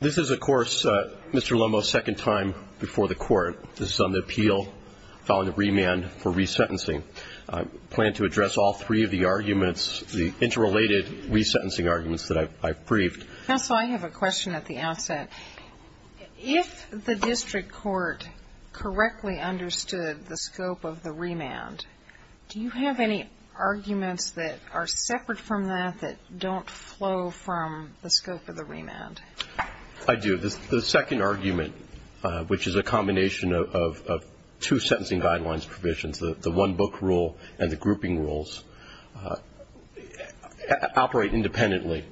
This is, of course, Mr. Lomow's second time before the court. This is on the appeal, filing the remand for resentencing. I plan to address all three of the arguments, the interrelated resentencing arguments that I've briefed. Counsel, I have a question at the outset. If the district court correctly understood the scope of the remand, do you have any arguments that are separate from that that don't flow from the scope of the remand? I do. The second argument, which is a combination of two sentencing guidelines provisions, the one-book rule and the grouping rules, operate independently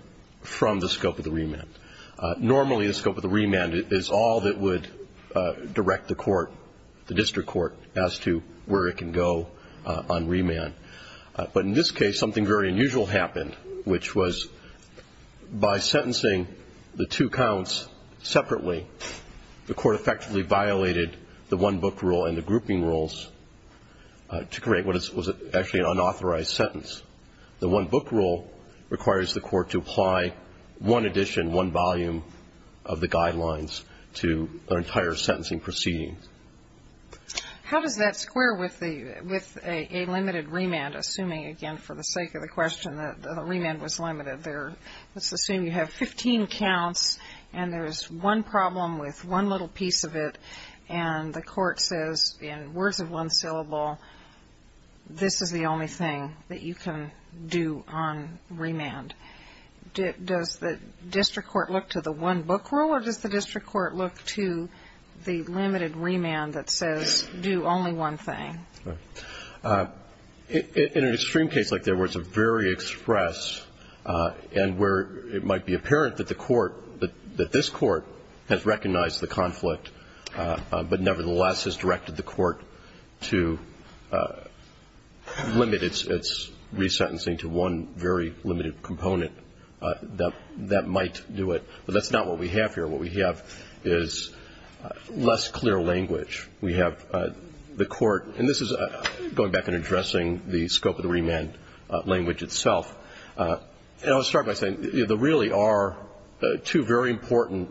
from the scope of the remand. Normally the scope of the remand is all that would direct the court, the district court, as to where it can go on remand. But in this case, something very unusual happened, which was by sentencing the two counts separately, the court effectively violated the one-book rule and the grouping rules to create what was actually an unauthorized sentence. The one-book rule requires the court to apply one edition, one volume of the guidelines to an entire sentencing proceeding. How does that square with a limited remand, assuming, again, for the sake of the question, that the remand was limited? Let's assume you have 15 counts and there's one problem with one little piece of it, and the court says in words of one syllable, this is the only thing that you can do on remand. Does the district court look to the one-book rule or does the district court look to the limited remand that says do only one thing? In an extreme case like that where it's a very express and where it might be apparent that the court, that this court has recognized the conflict, but nevertheless has directed the court to limit its re-sentencing to one very limited component, that might do it. But that's not what we have here. What we have is less clear language. We have the court, and this is going back and addressing the scope of the remand language itself. And I'll start by saying there really are two very important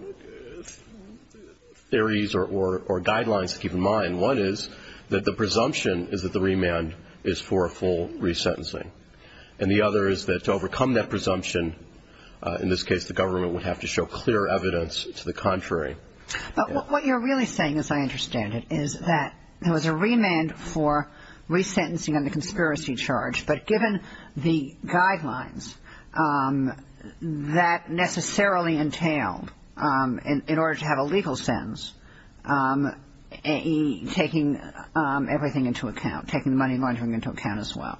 theories or guidelines to keep in mind. One is that the presumption is that the remand is for a full re-sentencing. And the other is that to overcome that presumption, in this case, the government would have to show clear evidence to the contrary. But what you're really saying, as I understand it, is that there was a remand for re-sentencing on the conspiracy charge, but given the guidelines, that necessarily entailed, in order to have a legal sentence, taking everything into account, taking the money laundering into account as well.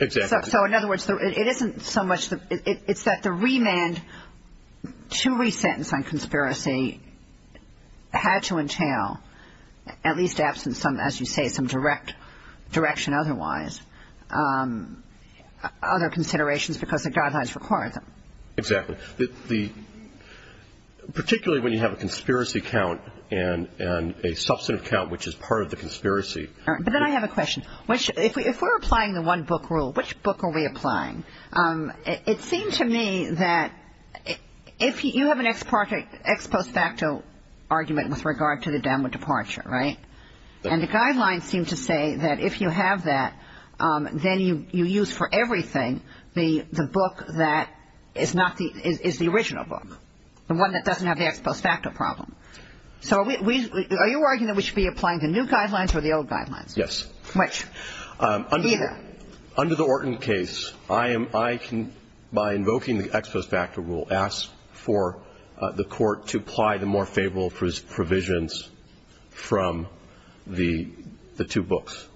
Exactly. So in other words, it isn't so much the – it's that the remand to re-sentence on conspiracy had to entail, at least absent some, as you say, some direction otherwise, other considerations because the guidelines require them. Exactly. Particularly when you have a conspiracy count and a substantive count, which is part of the conspiracy. But then I have a question. If we're applying the one-book rule, which book are we applying? It seemed to me that – you have an ex post facto argument with regard to the downward departure, right? And the guidelines seem to say that if you have that, then you use for everything the book that is the original book, the one that doesn't have the ex post facto problem. So are you arguing that we should be applying the new guidelines or the old guidelines? Yes. Which? Either. Under the Orton case, I am – I can, by invoking the ex post facto rule, ask for the Court to apply the more favorable provisions from the two books.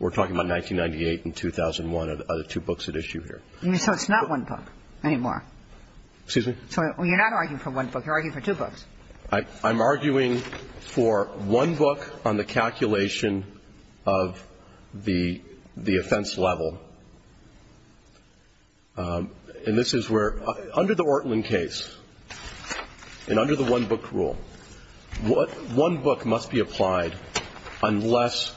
We're talking about 1998 and 2001 are the two books at issue here. So it's not one book anymore. Excuse me? So you're not arguing for one book. You're arguing for two books. I'm arguing for one book on the calculation of the offense level. And this is where – under the Orton case and under the one-book rule, one book must be applied unless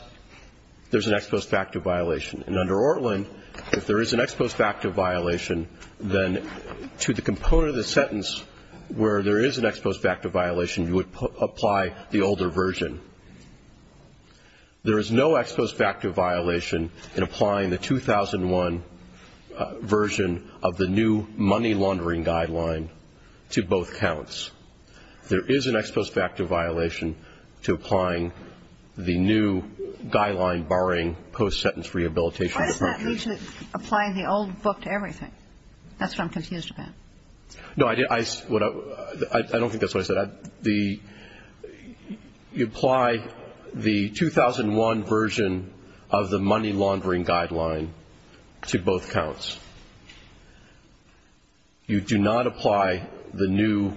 there's an ex post facto violation. And under Orton, if there is an ex post facto violation, then to the component under the sentence where there is an ex post facto violation, you would apply the older version. There is no ex post facto violation in applying the 2001 version of the new money laundering guideline to both counts. There is an ex post facto violation to applying the new guideline barring post-sentence rehabilitation. Why does that mean to apply the old book to everything? That's what I'm confused about. No, I don't think that's what I said. You apply the 2001 version of the money laundering guideline to both counts. You do not apply the new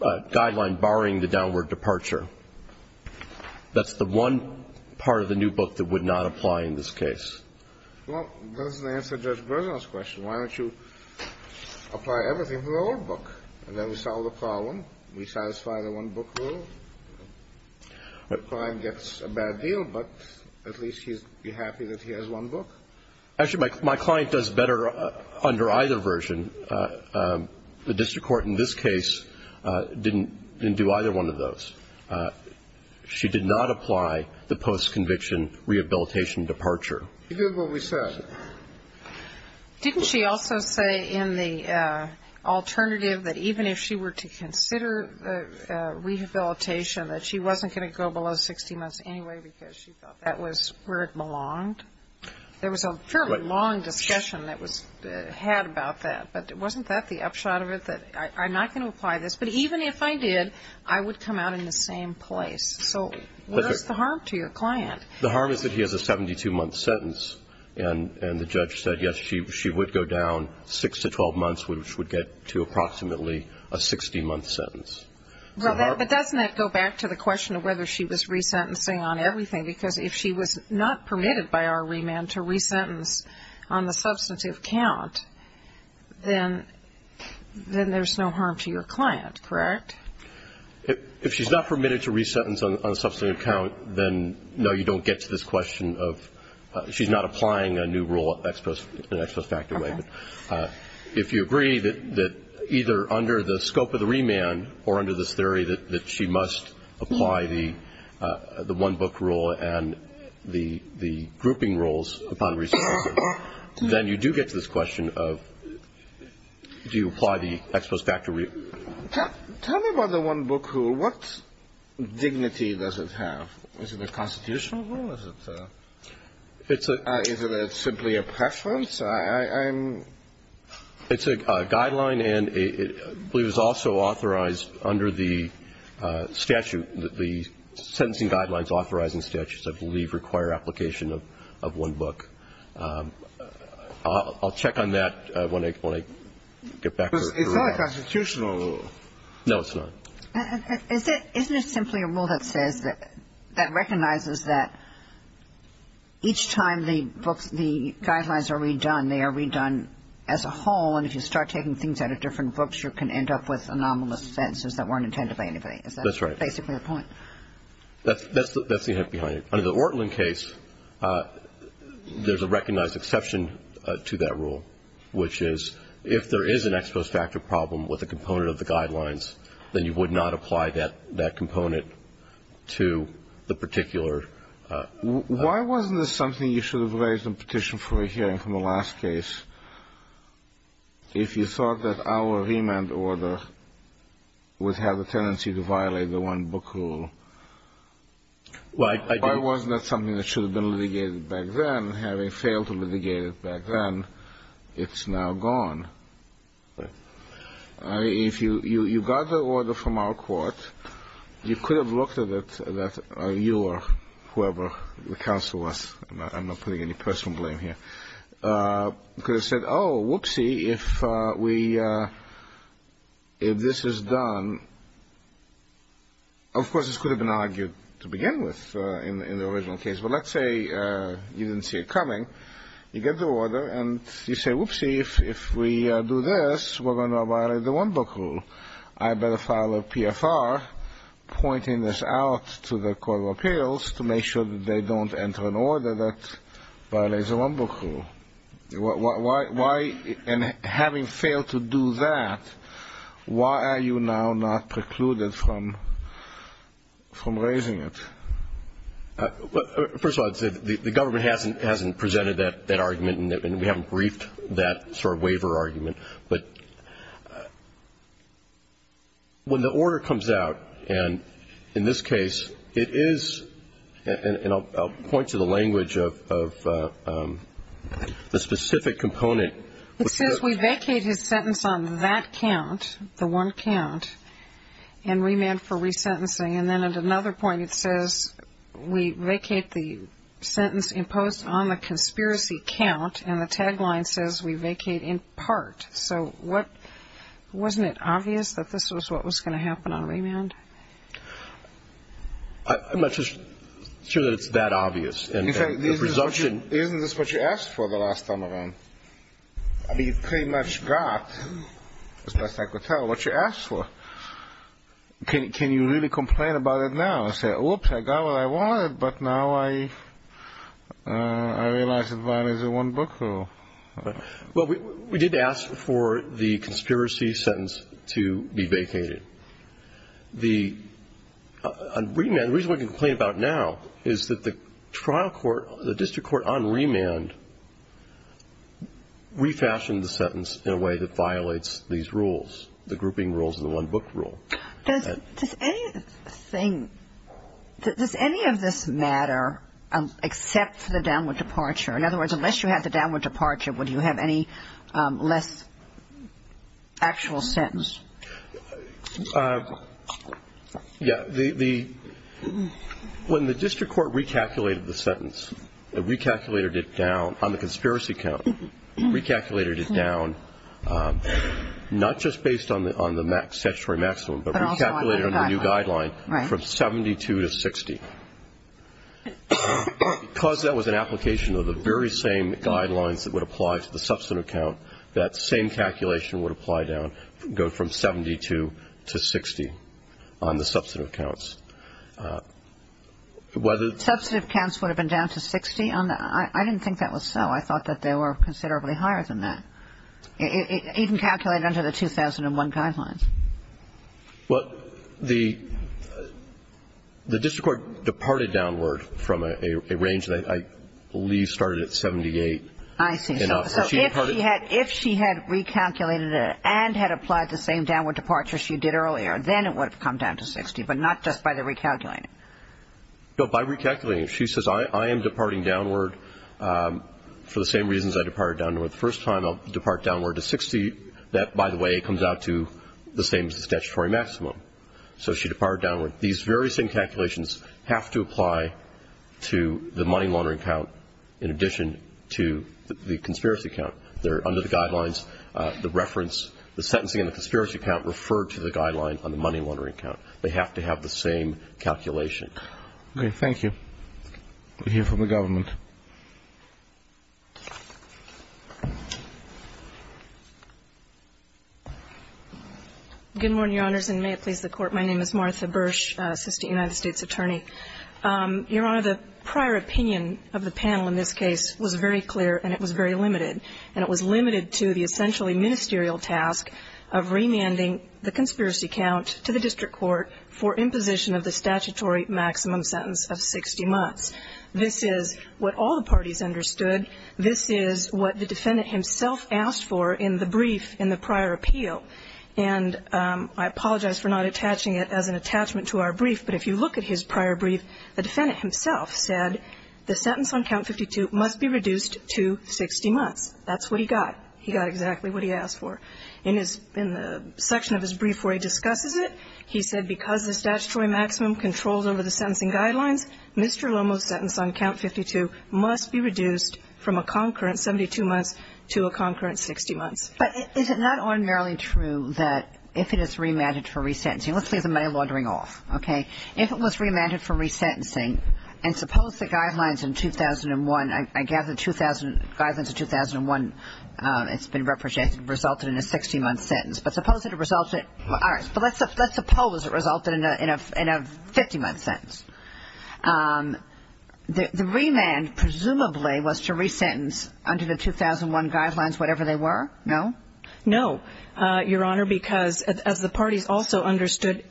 guideline barring the downward departure. That's the one part of the new book that would not apply in this case. Well, that doesn't answer Judge Bergeron's question. Why don't you apply everything to the old book? And then we solve the problem. We satisfy the one-book rule. The client gets a bad deal, but at least he's happy that he has one book. Actually, my client does better under either version. The district court in this case didn't do either one of those. She did not apply the post-conviction rehabilitation departure. You heard what we said. Didn't she also say in the alternative that even if she were to consider rehabilitation, that she wasn't going to go below 60 months anyway because she thought that was where it belonged? There was a fairly long discussion that was had about that. But wasn't that the upshot of it, that I'm not going to apply this? But even if I did, I would come out in the same place. So what is the harm to your client? The harm is that he has a 72-month sentence, and the judge said, yes, she would go down 6 to 12 months, which would get to approximately a 60-month sentence. But doesn't that go back to the question of whether she was resentencing on everything? Because if she was not permitted by our remand to resentence on the substantive count, then there's no harm to your client, correct? If she's not permitted to resentence on the substantive count, then no, you don't get to this question of she's not applying a new rule in an extra-effective way. If you agree that either under the scope of the remand or under this theory that she must apply the one-book rule and the grouping rules upon resentencing, then you do get to this question of do you apply the ex post facto rule? Tell me about the one-book rule. What dignity does it have? Is it a constitutional rule? Is it simply a preference? It's a guideline, and I believe it's also authorized under the statute. The sentencing guidelines authorizing statutes, I believe, require application of one book. I'll check on that when I get back to her. It's not a constitutional rule. No, it's not. Isn't it simply a rule that says that recognizes that each time the books, the guidelines are redone, they are redone as a whole, and if you start taking things out of different books, you can end up with anomalous sentences that weren't intended by anybody. Is that basically your point? That's right. That's the hint behind it. Under the Ortlin case, there's a recognized exception to that rule, which is if there is an ex post facto problem with a component of the guidelines, then you would not apply that component to the particular rule. Why wasn't this something you should have raised in petition for a hearing from the last case if you thought that our remand order would have a tendency to violate the one book rule? Why wasn't that something that should have been litigated back then? Having failed to litigate it back then, it's now gone. Right. If you got the order from our court, you could have looked at it, you or whoever the counsel was, I'm not putting any personal blame here, could have said, oh, whoopsie, if this is done. Of course, this could have been argued to begin with in the original case, but let's say you didn't see it coming. You get the order, and you say, whoopsie, if we do this, we're going to violate the one book rule. I better file a PFR pointing this out to the court of appeals to make sure that they don't enter an order that violates the one book rule. And having failed to do that, why are you now not precluded from raising it? First of all, the government hasn't presented that argument, and we haven't briefed that sort of waiver argument. But when the order comes out, and in this case, it is, and I'll point to the language of the specific component. It says we vacate his sentence on that count, the one count, and remand for resentencing. And then at another point it says we vacate the sentence imposed on the conspiracy count, and the tagline says we vacate in part. So wasn't it obvious that this was what was going to happen on remand? I'm not sure that it's that obvious. Isn't this what you asked for the last time around? I mean, you pretty much got, as best I could tell, what you asked for. Can you really complain about it now and say, oops, I got what I wanted, but now I realize it violates the one-book rule? Well, we did ask for the conspiracy sentence to be vacated. The reason we can complain about now is that the trial court, the district court on remand, refashioned the sentence in a way that violates these rules, the grouping rules of the one-book rule. Does any of this matter except for the downward departure? In other words, unless you had the downward departure, would you have any less actual sentence? Yeah. When the district court recalculated the sentence, recalculated it down on the conspiracy count, recalculated it down not just based on the statutory maximum, but recalculated on the new guideline from 72 to 60. Because that was an application of the very same guidelines that would apply to the substantive count, that same calculation would apply down, go from 72 to 60 on the substantive counts. Substantive counts would have been down to 60? I didn't think that was so. I thought that they were considerably higher than that, even calculated under the 2001 guidelines. Well, the district court departed downward from a range that I believe started at 78. I see. So if she had recalculated it and had applied the same downward departure she did earlier, then it would have come down to 60, but not just by the recalculating. No, by recalculating. She says, I am departing downward for the same reasons I departed downward the first time. I'll depart downward to 60. That, by the way, comes out to the same as the statutory maximum. So she departed downward. These very same calculations have to apply to the money laundering count in addition to the conspiracy count. They're under the guidelines. The reference, the sentencing and the conspiracy count refer to the guideline on the money laundering count. They have to have the same calculation. Okay. Thank you. We'll hear from the government. Good morning, Your Honors, and may it please the Court. My name is Martha Bursch, assistant United States attorney. Your Honor, the prior opinion of the panel in this case was very clear and it was very limited, and it was limited to the essentially ministerial task of remanding the conspiracy count to the district court for imposition of the statutory maximum sentence of 60 months. This is what all the parties understood. This is what the defendant himself asked for in the brief in the prior appeal. And I apologize for not attaching it as an attachment to our brief, but if you look at his prior brief, the defendant himself said the sentence on count 52 must be reduced to 60 months. That's what he got. He got exactly what he asked for. In the section of his brief where he discusses it, he said because the statutory maximum controls over the sentencing guidelines, Mr. Lomo's sentence on count 52 must be reduced from a concurrent 72 months to a concurrent 60 months. But is it not unmerely true that if it is remanded for resentencing, let's leave the money laundering off. Okay. If it was remanded for resentencing, and suppose the guidelines in 2001, it's been represented, resulted in a 60-month sentence. But suppose it resulted, all right, but let's suppose it resulted in a 50-month sentence. The remand presumably was to resentence under the 2001 guidelines, whatever they were. No? No, Your Honor, because as the parties also understood,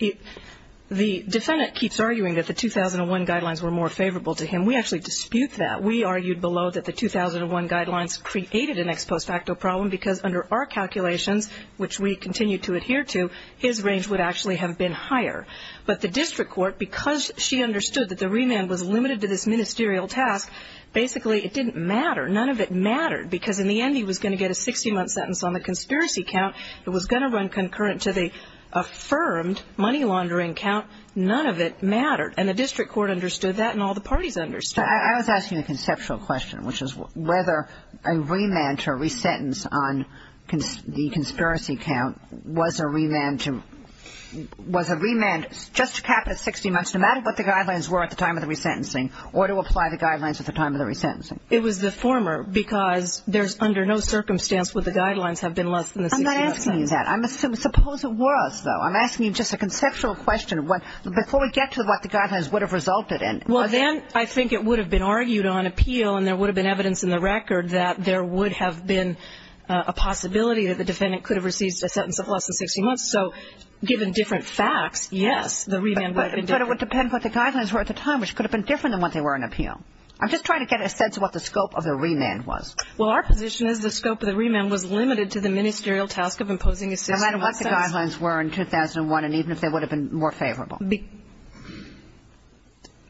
the defendant keeps arguing that the 2001 guidelines were more favorable to him. We actually dispute that. We argued below that the 2001 guidelines created an ex post facto problem because under our calculations, which we continue to adhere to, his range would actually have been higher. But the district court, because she understood that the remand was limited to this ministerial task, basically it didn't matter. None of it mattered because in the end he was going to get a 60-month sentence on the conspiracy count. It was going to run concurrent to the affirmed money laundering count. None of it mattered. And the district court understood that, and all the parties understood. I was asking a conceptual question, which is whether a remand to a resentence on the conspiracy count was a remand just to cap it at 60 months, no matter what the guidelines were at the time of the resentencing, or to apply the guidelines at the time of the resentencing. It was the former because there's under no circumstance would the guidelines have been less than the 60-month sentence. I'm not asking you that. Suppose it was, though. I'm asking you just a conceptual question. Before we get to what the guidelines would have resulted in. Well, then I think it would have been argued on appeal, and there would have been evidence in the record that there would have been a possibility that the defendant could have received a sentence of less than 60 months. So given different facts, yes, the remand would have been different. But it would depend what the guidelines were at the time, which could have been different than what they were on appeal. I'm just trying to get a sense of what the scope of the remand was. Well, our position is the scope of the remand was limited to the ministerial task of imposing a 60-month sentence. No matter what the guidelines were in 2001, and even if they would have been more favorable.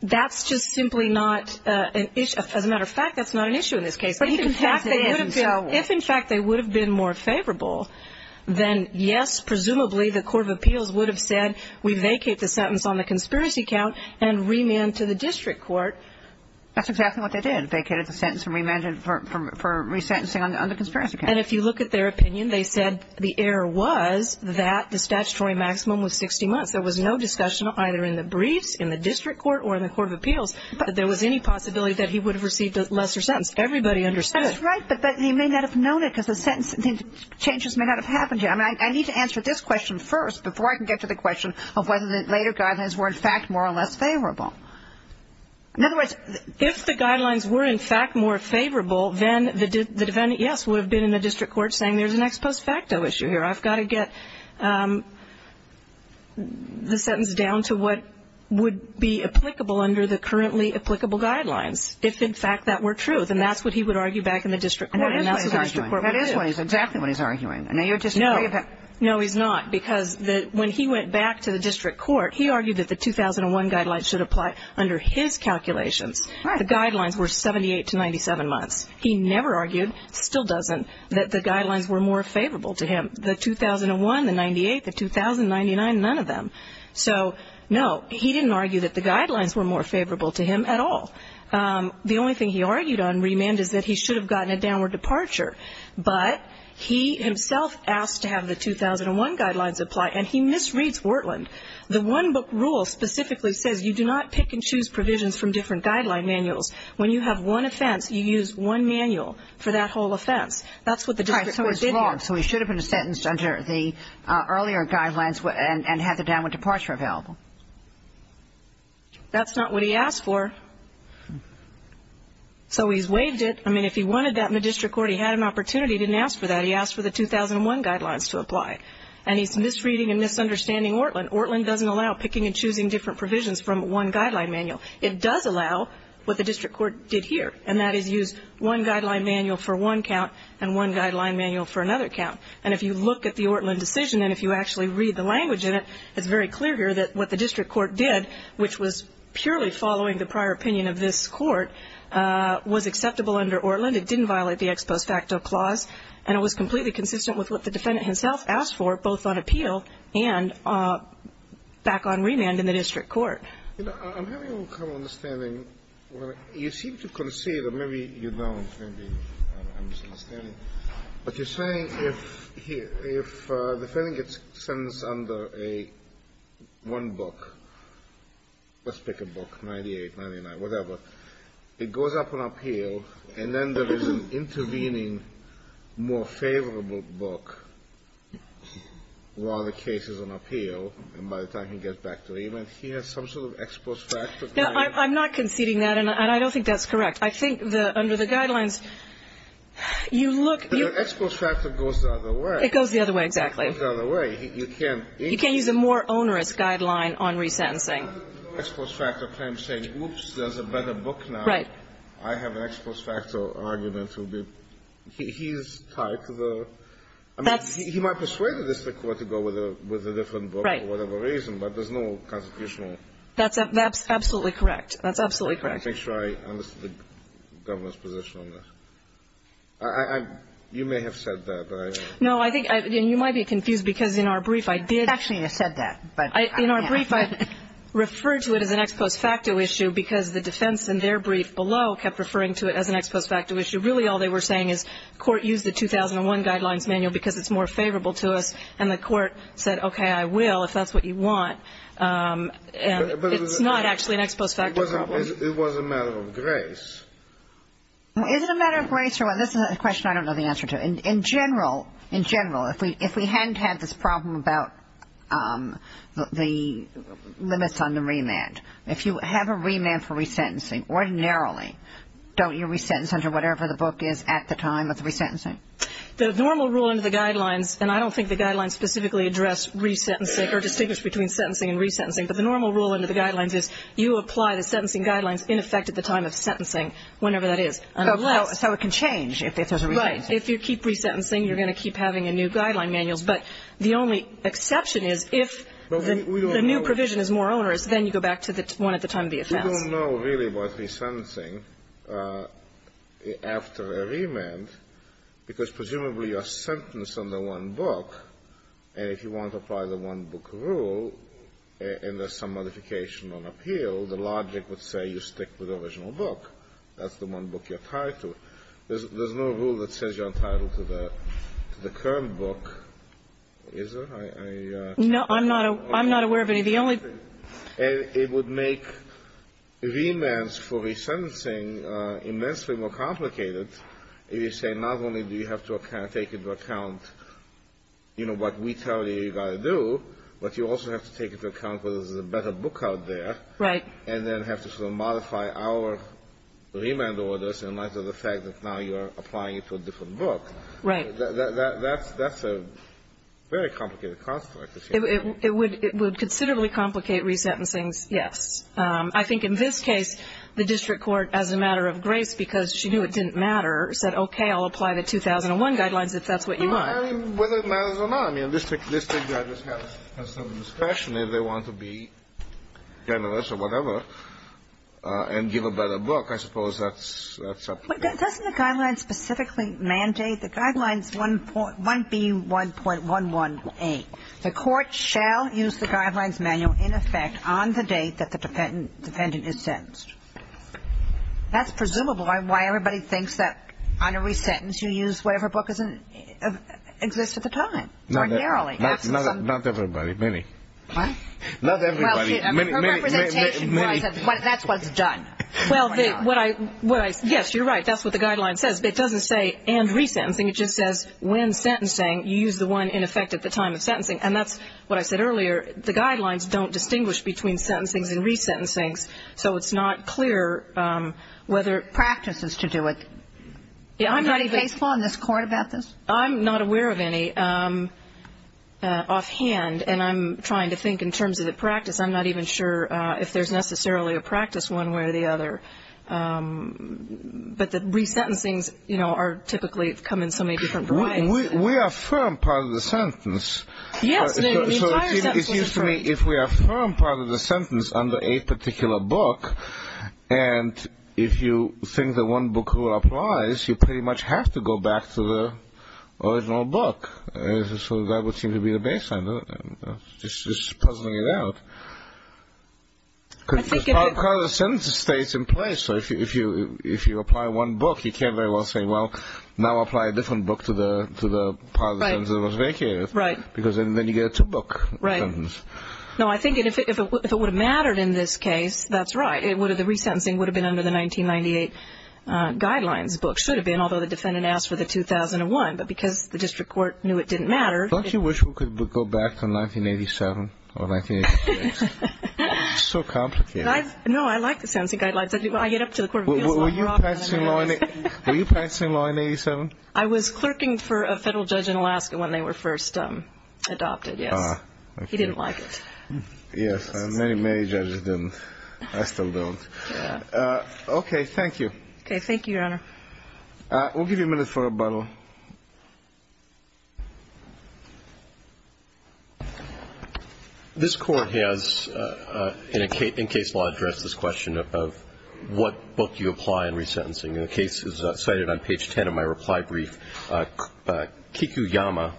That's just simply not an issue. As a matter of fact, that's not an issue in this case. But if, in fact, they would have been more favorable, then, yes, presumably the Court of Appeals would have said we vacate the sentence on the conspiracy count and remand to the district court. That's exactly what they did, vacated the sentence and remanded for resentencing on the conspiracy count. And if you look at their opinion, they said the error was that the statutory maximum was 60 months. There was no discussion either in the briefs, in the district court or in the Court of Appeals that there was any possibility that he would have received a lesser sentence. Everybody understood it. That's right, but he may not have known it because the changes may not have happened yet. I mean, I need to answer this question first before I can get to the question of whether the later guidelines were, in fact, more or less favorable. In other words, if the guidelines were, in fact, more favorable, then the defendant, yes, would have been in the district court saying there's an ex post facto issue here. I've got to get the sentence down to what would be applicable under the currently applicable guidelines. If, in fact, that were true, then that's what he would argue back in the district court. And that's what the district court would do. That is what he's arguing. That is exactly what he's arguing. No, he's not, because when he went back to the district court, he argued that the 2001 guidelines should apply under his calculations. Right. The guidelines were 78 to 97 months. He never argued, still doesn't, that the guidelines were more favorable to him. The 2001, the 98, the 2000, 99, none of them. So, no, he didn't argue that the guidelines were more favorable to him at all. The only thing he argued on remand is that he should have gotten a downward departure. But he himself asked to have the 2001 guidelines apply, and he misreads Wortland. The one-book rule specifically says you do not pick and choose provisions from different guideline manuals. When you have one offense, you use one manual for that whole offense. That's what the district court did here. So he should have been sentenced under the earlier guidelines and had the downward departure available. That's not what he asked for. So he's waived it. I mean, if he wanted that in the district court, he had an opportunity. He didn't ask for that. He asked for the 2001 guidelines to apply. And he's misreading and misunderstanding Wortland. Wortland doesn't allow picking and choosing different provisions from one guideline manual. It does allow what the district court did here, and that is use one guideline manual for one count and one guideline manual for another count. And if you look at the Wortland decision and if you actually read the language in it, it's very clear here that what the district court did, which was purely following the prior opinion of this court, was acceptable under Wortland. It didn't violate the ex post facto clause, and it was completely consistent with what the defendant himself asked for, both on appeal and back on remand in the district court. You know, I'm having a little kind of understanding. You seem to concede, or maybe you don't. Maybe I'm misunderstanding. But you're saying if the defendant gets sentenced under a one book, let's pick a book, 98, 99, whatever, it goes up on appeal, and then there is an intervening, more favorable book while the case is on appeal and by the time he gets back to remand, he has some sort of ex post facto claim. I'm not conceding that, and I don't think that's correct. I think under the guidelines, you look at the ex post facto goes the other way. It goes the other way, exactly. It goes the other way. You can't use a more onerous guideline on resentencing. Ex post facto claim saying, oops, there's a better book now. Right. I have an ex post facto argument. He's tied to the – I mean, he might persuade the district court to go with a different book for whatever reason, but there's no constitutional. That's absolutely correct. That's absolutely correct. Let me make sure I understand the Governor's position on that. You may have said that. No, I think you might be confused because in our brief, I did – Actually, you said that, but I can't. In our brief, I referred to it as an ex post facto issue because the defense in their brief below kept referring to it as an ex post facto issue. Really, all they were saying is court used the 2001 guidelines manual because it's more And it's not actually an ex post facto problem. It was a matter of grace. Is it a matter of grace? This is a question I don't know the answer to. In general, in general, if we hadn't had this problem about the limits on the remand, if you have a remand for resentencing, ordinarily, don't you resentence under whatever the book is at the time of the resentencing? The normal rule under the guidelines, and I don't think the guidelines specifically address resentencing or distinguish between sentencing and resentencing, but the normal rule under the guidelines is you apply the sentencing guidelines in effect at the time of sentencing, whenever that is. So it can change if there's a resentence. Right. If you keep resentencing, you're going to keep having a new guideline manual. But the only exception is if the new provision is more onerous, then you go back to the one at the time of the offense. I don't know really about resentencing after a remand, because presumably you're sentenced under one book, and if you want to apply the one-book rule and there's some modification on appeal, the logic would say you stick with the original book. That's the one book you're tied to. There's no rule that says you're entitled to the current book, is there? No, I'm not aware of any. It would make remands for resentencing immensely more complicated if you say not only do you have to take into account, you know, what we tell you you've got to do, but you also have to take into account whether there's a better book out there. Right. And then have to sort of modify our remand orders in light of the fact that now you're applying it to a different book. Right. That's a very complicated construct. It would considerably complicate resentencings, yes. I think in this case, the district court, as a matter of grace, because she knew it didn't matter, said, okay, I'll apply the 2001 guidelines if that's what you want. No, I mean, whether it matters or not. I mean, district judges have some discretion if they want to be generous or whatever and give a better book. I suppose that's up to them. But doesn't the guideline specifically mandate the guidelines 1B1.11a? The court shall use the guidelines manual in effect on the date that the defendant is sentenced. That's presumably why everybody thinks that on a resentence you use whatever book exists at the time. Not everybody. Many. What? Not everybody. Her representation was that that's what's done. Well, yes, you're right. That's what the guideline says. But it doesn't say and resentencing. It just says when sentencing, you use the one in effect at the time of sentencing. And that's what I said earlier. The guidelines don't distinguish between sentencings and resentencings. So it's not clear whether it practices to do it. Are there any case law in this court about this? I'm not aware of any offhand. And I'm trying to think in terms of the practice. I'm not even sure if there's necessarily a practice one way or the other. But the resentencings, you know, typically come in so many different varieties. We affirm part of the sentence. Yes. So it seems to me if we affirm part of the sentence under a particular book and if you think that one book will apprise, you pretty much have to go back to the original book. So that would seem to be the baseline, just puzzling it out. Part of the sentence stays in place. So if you apply one book, you can't very well say, well, now apply a different book to the part of the sentence that was vacated. Right. Because then you get a two-book sentence. No, I think if it would have mattered in this case, that's right. The resentencing would have been under the 1998 guidelines. The book should have been, although the defendant asked for the 2001. But because the district court knew it didn't matter. Don't you wish we could go back to 1987 or 1988? It's so complicated. No, I like the sentencing guidelines. I get up to the Court of Appeals. Were you practicing law in 1987? I was clerking for a federal judge in Alaska when they were first adopted, yes. He didn't like it. Yes, and many, many judges didn't. I still don't. Okay, thank you. Okay, thank you, Your Honor. We'll give you a minute for a bubble. This Court has, in case law, addressed this question of what book you apply in resentencing. And the case is cited on page 10 of my reply brief. Kikuyama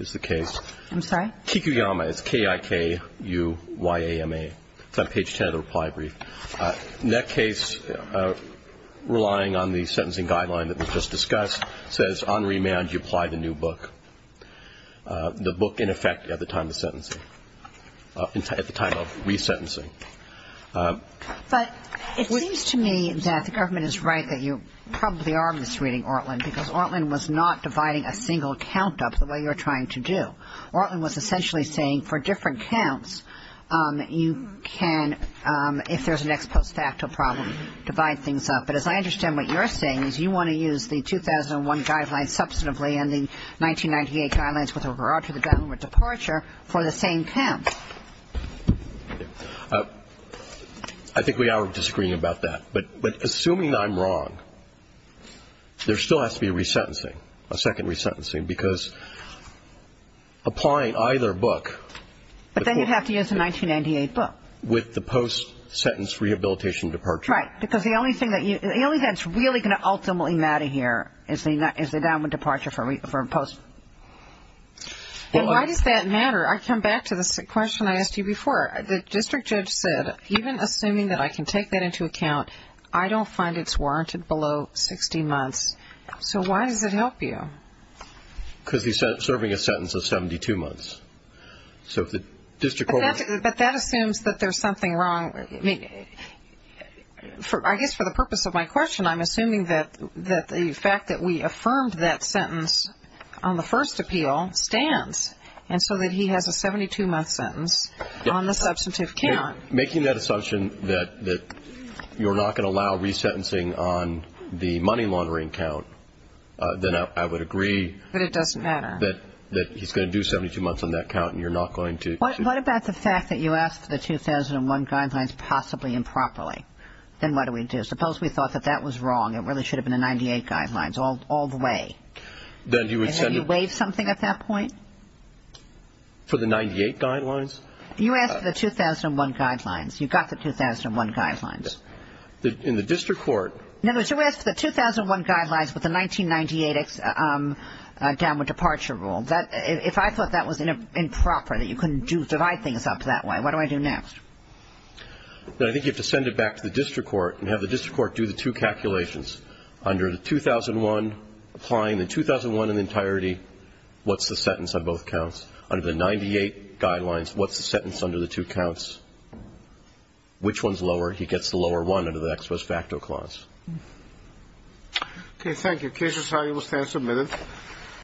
is the case. I'm sorry? Kikuyama, it's K-I-K-U-Y-A-M-A. It's on page 10 of the reply brief. In that case, relying on the sentencing guideline that was just discussed, says on remand you apply the new book, the book in effect at the time of sentencing, at the time of resentencing. But it seems to me that the government is right that you probably are misreading Ortlin because Ortlin was not dividing a single count up the way you're trying to do. Ortlin was essentially saying for different counts, you can, if there's an ex post facto problem, divide things up. But as I understand what you're saying is you want to use the 2001 guidelines substantively and the 1998 guidelines with regard to the government departure for the same count. I think we are disagreeing about that. But assuming I'm wrong, there still has to be a resentencing, a second resentencing, because applying either book the Court thinks But then you'd have to use the 1998 book. With the post-sentence rehabilitation departure. That's right. Because the only thing that's really going to ultimately matter here is the government departure for a post-sentence. Why does that matter? I come back to the question I asked you before. The district judge said, even assuming that I can take that into account, I don't find it's warranted below 60 months. So why does it help you? Because he's serving a sentence of 72 months. But that assumes that there's something wrong. I guess for the purpose of my question, I'm assuming that the fact that we affirmed that sentence on the first appeal stands. And so that he has a 72-month sentence on the substantive count. Making that assumption that you're not going to allow resentencing on the money laundering count, then I would agree. But it doesn't matter. That he's going to do 72 months on that count and you're not going to. What about the fact that you asked for the 2001 guidelines possibly improperly? Then what do we do? Suppose we thought that that was wrong. It really should have been the 98 guidelines all the way. Then you would send a And have you waived something at that point? For the 98 guidelines? You asked for the 2001 guidelines. You got the 2001 guidelines. In the district court In other words, you asked for the 2001 guidelines with the 1998 downward departure rule. If I thought that was improper, that you couldn't divide things up that way, what do I do next? I think you have to send it back to the district court and have the district court do the two calculations. Under the 2001, applying the 2001 in entirety, what's the sentence on both counts? Under the 98 guidelines, what's the sentence under the two counts? Which one's lower? He gets the lower one under the ex post facto clause. Okay, thank you. Case resolution will stand submitted.